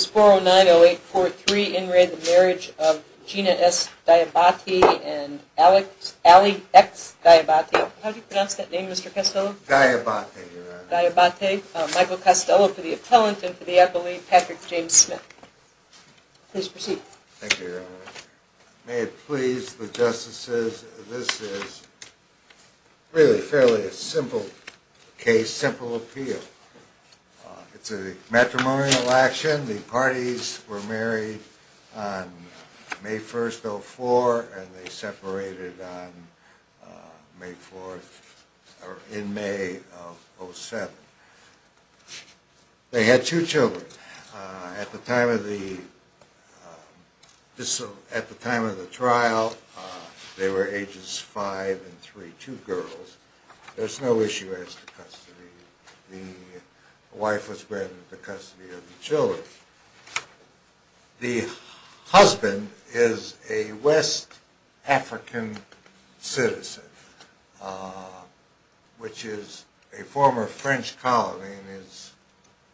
Sporo 90843 in re the Marriage of Gina S. Diabate and Ali X. Diabate. How do you pronounce that name, Mr. Costello? Diabate, Your Honor. Diabate. Michael Costello for the appellant and for the appellee, Patrick James Smith. Please proceed. Thank you, Your Honor. May it please the Justices, this is really fairly a simple case, simple appeal. It's a matrimonial action. The parties were married on May 1st, 04, and they separated on May 4th, or in May of 07. They had two children. At the time of the trial, they were ages five and three, two girls. There's no issue as to custody. The wife was granted the custody of the children. The husband is a West African citizen, which is a former French colony and his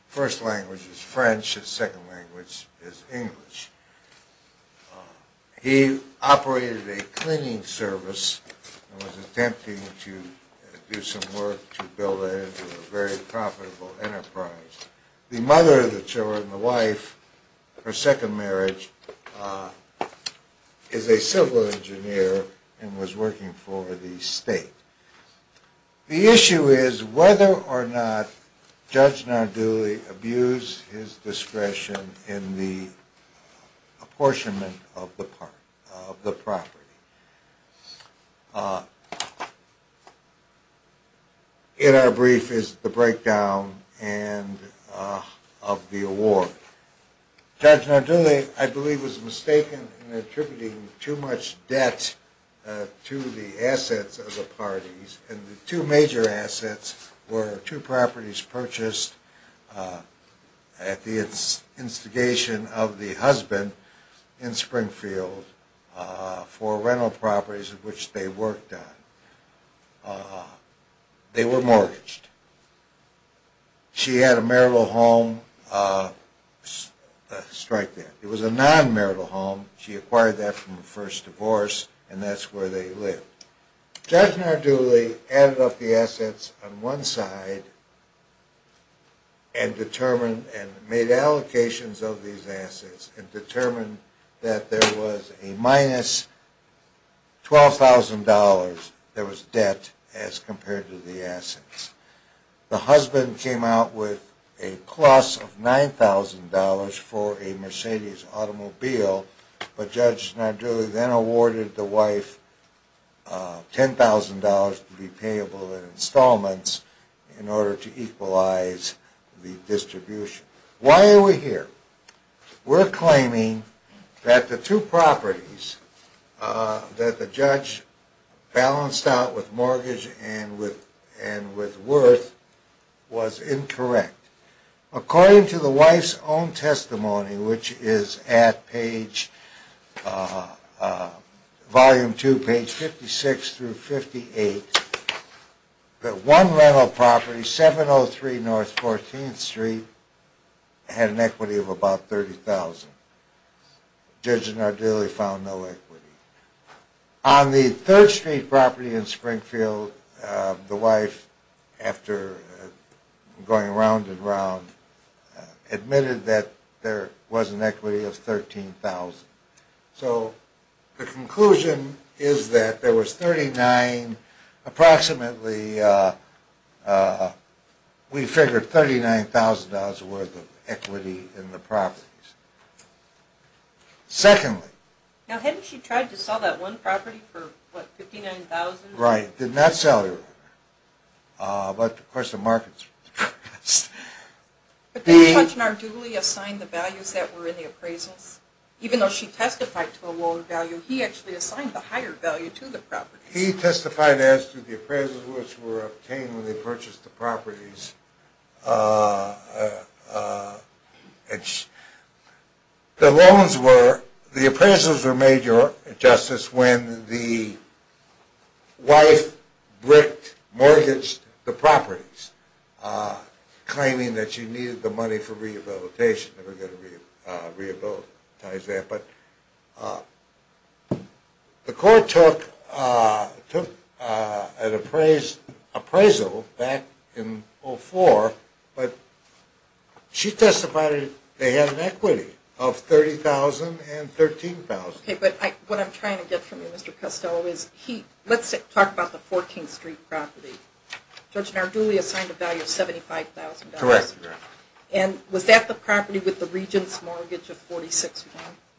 first language is French, his second language is English. He operated a cleaning service and was attempting to do some work to build a very profitable enterprise. The mother of the children, the wife, her second marriage, is a civil engineer and was working for the state. The issue is whether or not Judge Nardulli abused his discretion in the apportionment of the property. In our brief is the breakdown of the award. Judge Nardulli, I believe, was mistaken in attributing too much debt to the assets of the parties. And the two major assets were two properties purchased at the instigation of the husband in Springfield for rental properties, which they worked on. They were mortgaged. She had a marital home, strike that, it was a non-marital home, she acquired that from a first divorce and that's where they lived. Judge Nardulli added up the assets on one side and determined and made allocations of these assets and determined that there was a minus $12,000 that was debt as compared to the assets. The husband came out with a plus of $9,000 for a Mercedes automobile, but Judge Nardulli then awarded the wife $10,000 to be payable in installments in order to equalize the distribution. Why are we here? We're claiming that the two properties that the judge balanced out with mortgage and with worth was incorrect. According to the wife's own testimony, which is at page, volume two, page 56 through 58, that one rental property, 703 North 14th Street, had an equity of about $30,000. Judge Nardulli found no equity. On the 3rd Street property in Springfield, the wife, after going round and round, admitted that there was an equity of $13,000. So the conclusion is that there was 39, approximately, we figured $39,000 worth of equity in the properties. Secondly, Now hadn't she tried to sell that one property for $59,000? Right, did not sell it. But of course the markets were depressed. But didn't Judge Nardulli assign the values that were in the appraisals? Even though she testified to a lower value, he actually assigned the higher value to the properties. He testified as to the appraisals which were obtained when they purchased the properties. The loans were, the appraisals were made, Your Justice, when the wife bricked, mortgaged the properties, claiming that she needed the money for rehabilitation. The court took an appraisal back in 2004, but she testified that they had an equity of $30,000 and $13,000. But what I'm trying to get from you, Mr. Costello, is he, let's talk about the 14th Street property. Judge Nardulli assigned a value of $75,000. Correct. And was that the property with the regent's mortgage of $46,000?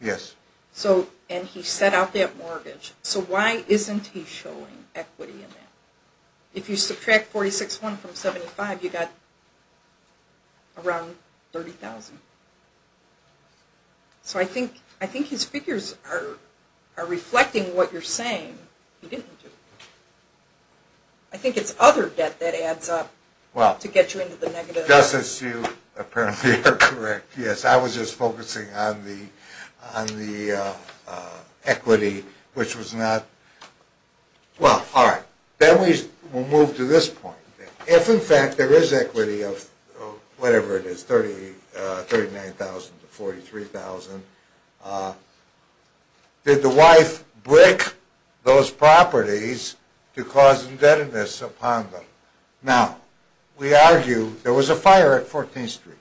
Yes. So, and he set out that mortgage. So why isn't he showing equity in that? If you subtract $46,000 from $75,000, you've got around $30,000. So I think his figures are reflecting what you're saying. I think it's other debt that adds up to get you into the negative. Your Justice, you apparently are correct. Yes, I was just focusing on the equity, which was not, well, all right. Then we'll move to this point. If, in fact, there is equity of whatever it is, $39,000 to $43,000, did the wife brick those properties to cause indebtedness upon them? Now, we argue there was a fire at 14th Street.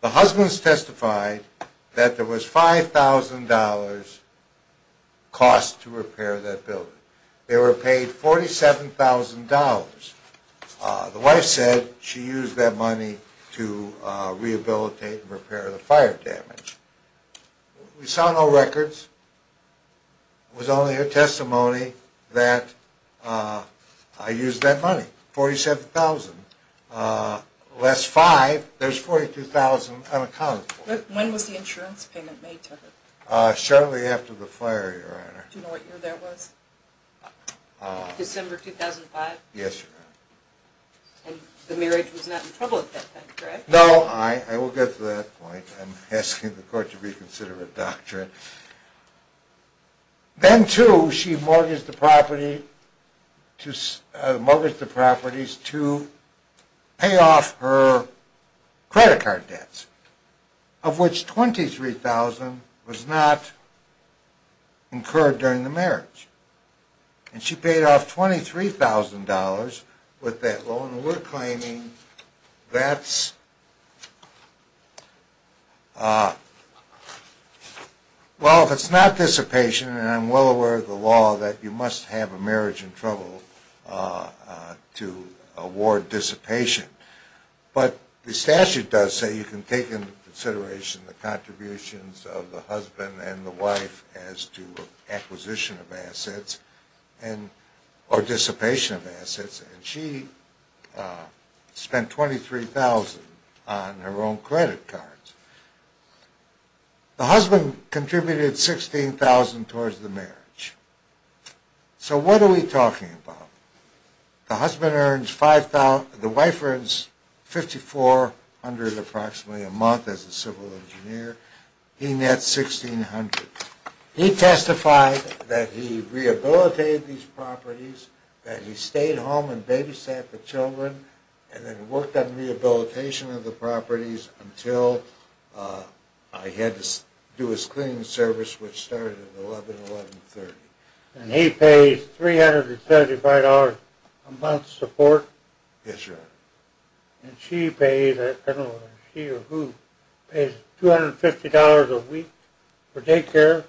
The husbands testified that there was $5,000 cost to repair that building. They were paid $47,000. The wife said she used that money to rehabilitate and repair the fire damage. We saw no records. It was only her testimony that I used that money, $47,000. Less five, there's $42,000 unaccounted for. When was the insurance payment made to her? Shortly after the fire, Your Honor. Do you know what year that was? December 2005? Yes, Your Honor. And the marriage was not in trouble at that time, correct? No, I will get to that point. I'm asking the court to reconsider her doctrine. Then, too, she mortgaged the properties to pay off her credit card debts, of which $23,000 was not incurred during the marriage. And she paid off $23,000 with that loan. We're claiming that's, well, if it's not dissipation, and I'm well aware of the law, that you must have a marriage in trouble to award dissipation. But the statute does say you can take into consideration the contributions of the husband and the wife as to acquisition of assets or dissipation of assets. And she spent $23,000 on her own credit cards. The husband contributed $16,000 towards the marriage. So what are we talking about? The wife earns $5,400 approximately a month as a civil engineer. He nets $1,600. He testified that he rehabilitated these properties, that he stayed home and babysat the children, and then worked on rehabilitation of the properties until he had to do his cleaning service, which started at 11, 1130. And he pays $375 a month's support. Yes, Your Honor. And she pays, I don't know if she or who, pays $250 a week for daycare.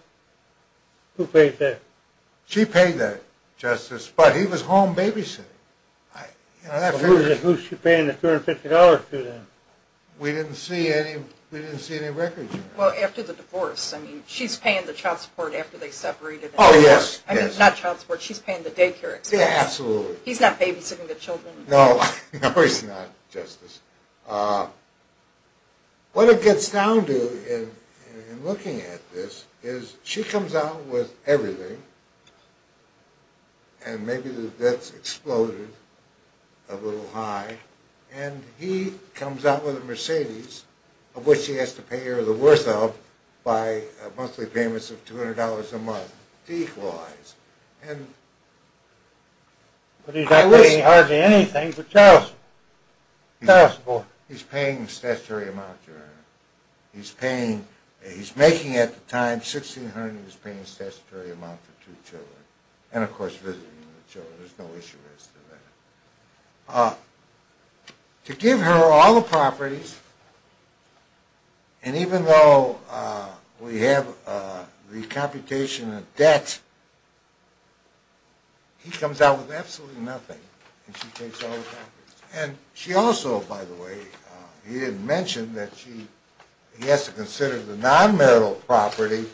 Who pays that? She paid that, Justice, but he was home babysitting. Who's she paying the $250 to then? We didn't see any records yet. Well, after the divorce, I mean, she's paying the child support after they separated. Oh, yes, yes. I mean, not child support, she's paying the daycare expense. Yeah, absolutely. He's not babysitting the children. No, he's not, Justice. What it gets down to in looking at this is she comes out with everything, and maybe the debt's exploded a little high, and he comes out with a Mercedes, of which he has to pay her the worth of by a monthly payment of $200 a month to equalize. But he's not paying hardly anything for child support. He's paying a statutory amount, Your Honor. He's making at the time $1,600, and he's paying a statutory amount for two children. And, of course, visiting the children. There's no issue with that. To give her all the properties, and even though we have the computation of debt, he comes out with absolutely nothing, and she takes all the properties. And she also, by the way, he didn't mention that he has to consider the non-marital property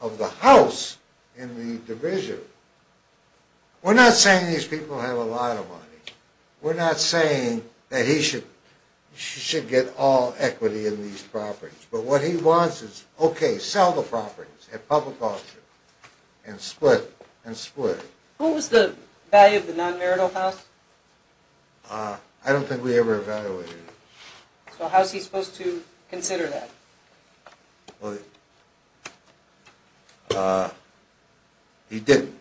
of the house in the division. We're not saying these people have a lot of money. We're not saying that he should get all equity in these properties. But what he wants is, okay, sell the properties at public auction, and split, and split. What was the value of the non-marital house? I don't think we ever evaluated it. So how's he supposed to consider that? Well, he didn't.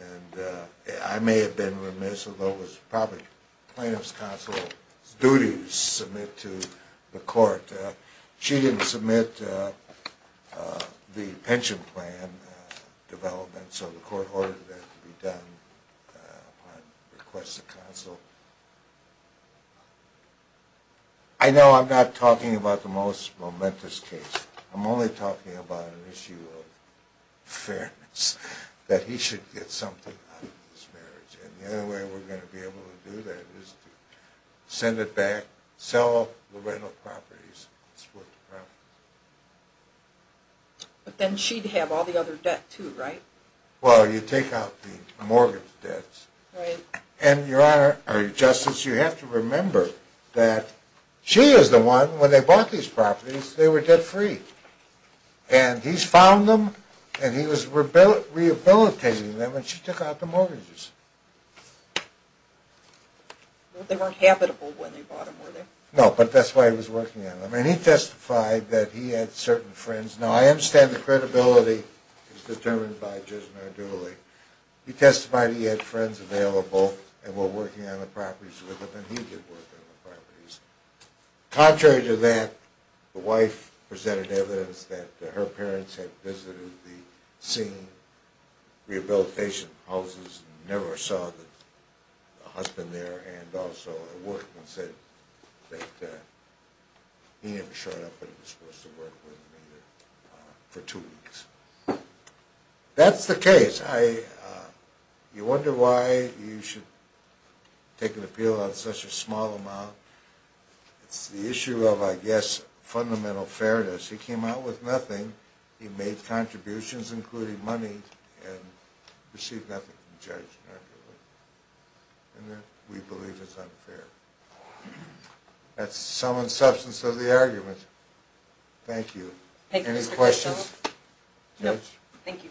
And I may have been remiss, although it was probably plaintiff's counsel's duty to submit to the court. She didn't submit the pension plan development, so the court ordered that to be done upon request of counsel. I know I'm not talking about the most momentous case. I'm only talking about an issue of fairness, that he should get something out of this marriage. And the only way we're going to be able to do that is to send it back, sell the rental properties, split the property. But then she'd have all the other debt, too, right? Well, you take out the mortgage debts. Right. And, Your Honor, Justice, you have to remember that she is the one, when they bought these properties, they were debt-free. And he's found them, and he was rehabilitating them, and she took out the mortgages. They weren't habitable when they bought them, were they? No, but that's why he was working on them. And he testified that he had certain friends. Now, I understand the credibility is determined by Judge Nardulli. He testified he had friends available, and were working on the properties with him, and he did work on the properties. Contrary to that, the wife presented evidence that her parents had visited the scene, rehabilitation houses, and never saw the husband there, and also at work, and said that he hadn't shown up, but he was supposed to work with them for two weeks. That's the case. You wonder why you should take an appeal on such a small amount. It's the issue of, I guess, fundamental fairness. He came out with nothing. He made contributions, including money, and received nothing from Judge Nardulli. And we believe it's unfair. That's the sum and substance of the argument. Thank you. Any questions? No. Thank you.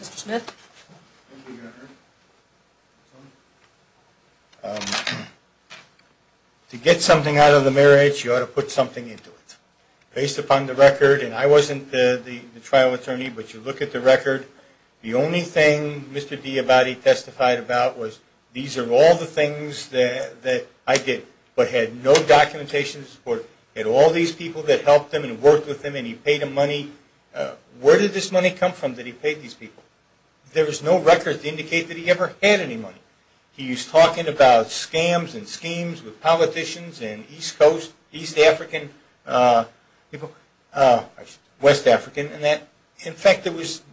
Mr. Smith? Thank you, Your Honor. To get something out of the marriage, you ought to put something into it. Based upon the record, and I wasn't the trial attorney, but you look at the record, the only thing Mr. Diabati testified about was, these are all the things that I did, but had no documentation to support. He had all these people that helped him and worked with him, and he paid them money. Where did this money come from that he paid these people? There was no record to indicate that he ever had any money. He was talking about scams and schemes with politicians and East African people, West African, and that, in fact,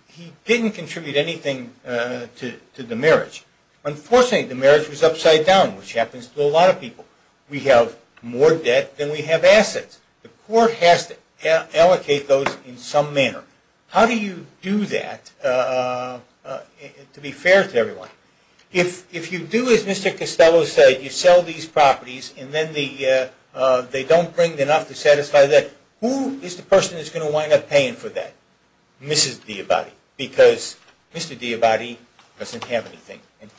he didn't contribute anything to the marriage. Unfortunately, the marriage was upside down, which happens to a lot of people. We have more debt than we have assets. The court has to allocate those in some manner. How do you do that, to be fair to everyone? If you do, as Mr. Costello said, you sell these properties, and then they don't bring enough to satisfy that, who is the person that's going to wind up paying for that? Mrs. Diabati, because Mr. Diabati doesn't have anything, and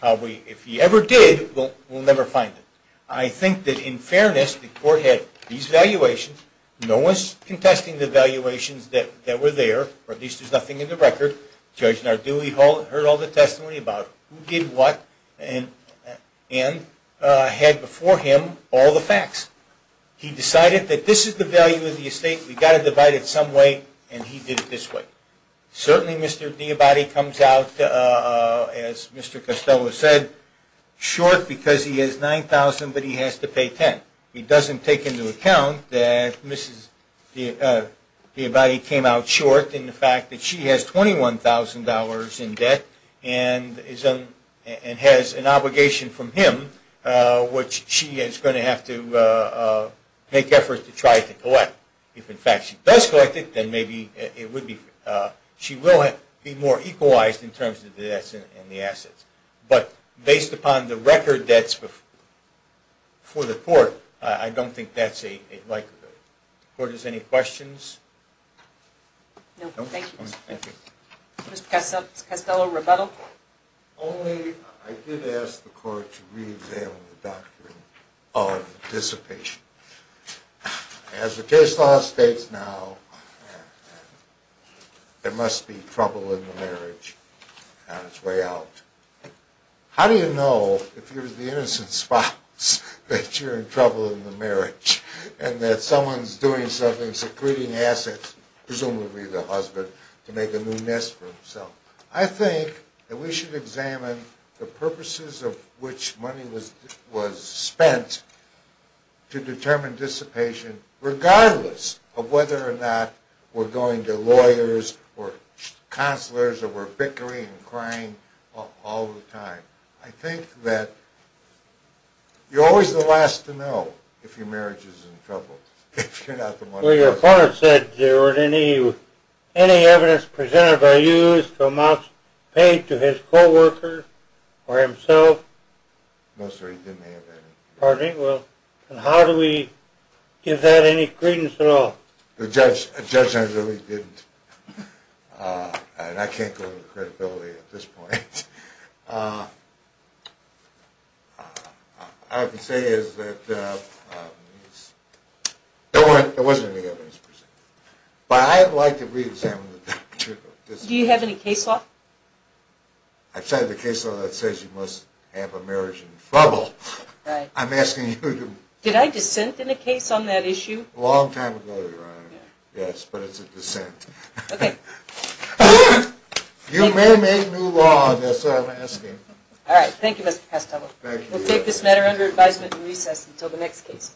if he ever did, we'll never find it. I think that, in fairness, the court had these valuations. No one's contesting the valuations that were there, or at least there's nothing in the record. Judge Narduli heard all the testimony about who did what, and had before him all the facts. He decided that this is the value of the estate. We've got to divide it some way, and he did it this way. Certainly, Mr. Diabati comes out, as Mr. Costello said, short because he has $9,000, but he has to pay $10,000. He doesn't take into account that Mrs. Diabati came out short in the fact that she has $21,000 in debt, and has an obligation from him, which she is going to have to make efforts to try to collect. If, in fact, she does collect it, then maybe she will be more equalized in terms of the debts and the assets. But based upon the record debts before the court, I don't think that's a likelihood. Court, is there any questions? No, thank you. Mr. Costello, rebuttal. Only, I did ask the court to re-examine the doctrine of dissipation. As the case law states now, there must be trouble in the marriage on its way out. How do you know, if you're the innocent spouse, that you're in trouble in the marriage, and that someone's doing something, secreting assets, presumably the husband, to make a new nest for himself? I think that we should examine the purposes of which money was spent to determine dissipation, regardless of whether or not we're going to lawyers or counselors or we're bickering and crying all the time. I think that you're always the last to know if your marriage is in trouble, if you're not the one. Well, your opponent said there weren't any evidence presented by you to amounts paid to his co-worker or himself. No, sir, he didn't have any. Pardon me? Well, how do we give that any credence at all? The judge and I really didn't, and I can't go into credibility at this point. All I can say is that there wasn't any evidence presented. But I would like to re-examine the doctrine of dissipation. Do you have any case law? I've cited a case law that says you must have a marriage in trouble. Right. I'm asking you to... Did I dissent in a case on that issue? A long time ago, Your Honor. Yes, but it's a dissent. Okay. You may make new law, that's what I'm asking. All right, thank you, Mr. Castello. Thank you. We'll take this matter under advisement and recess until the next case.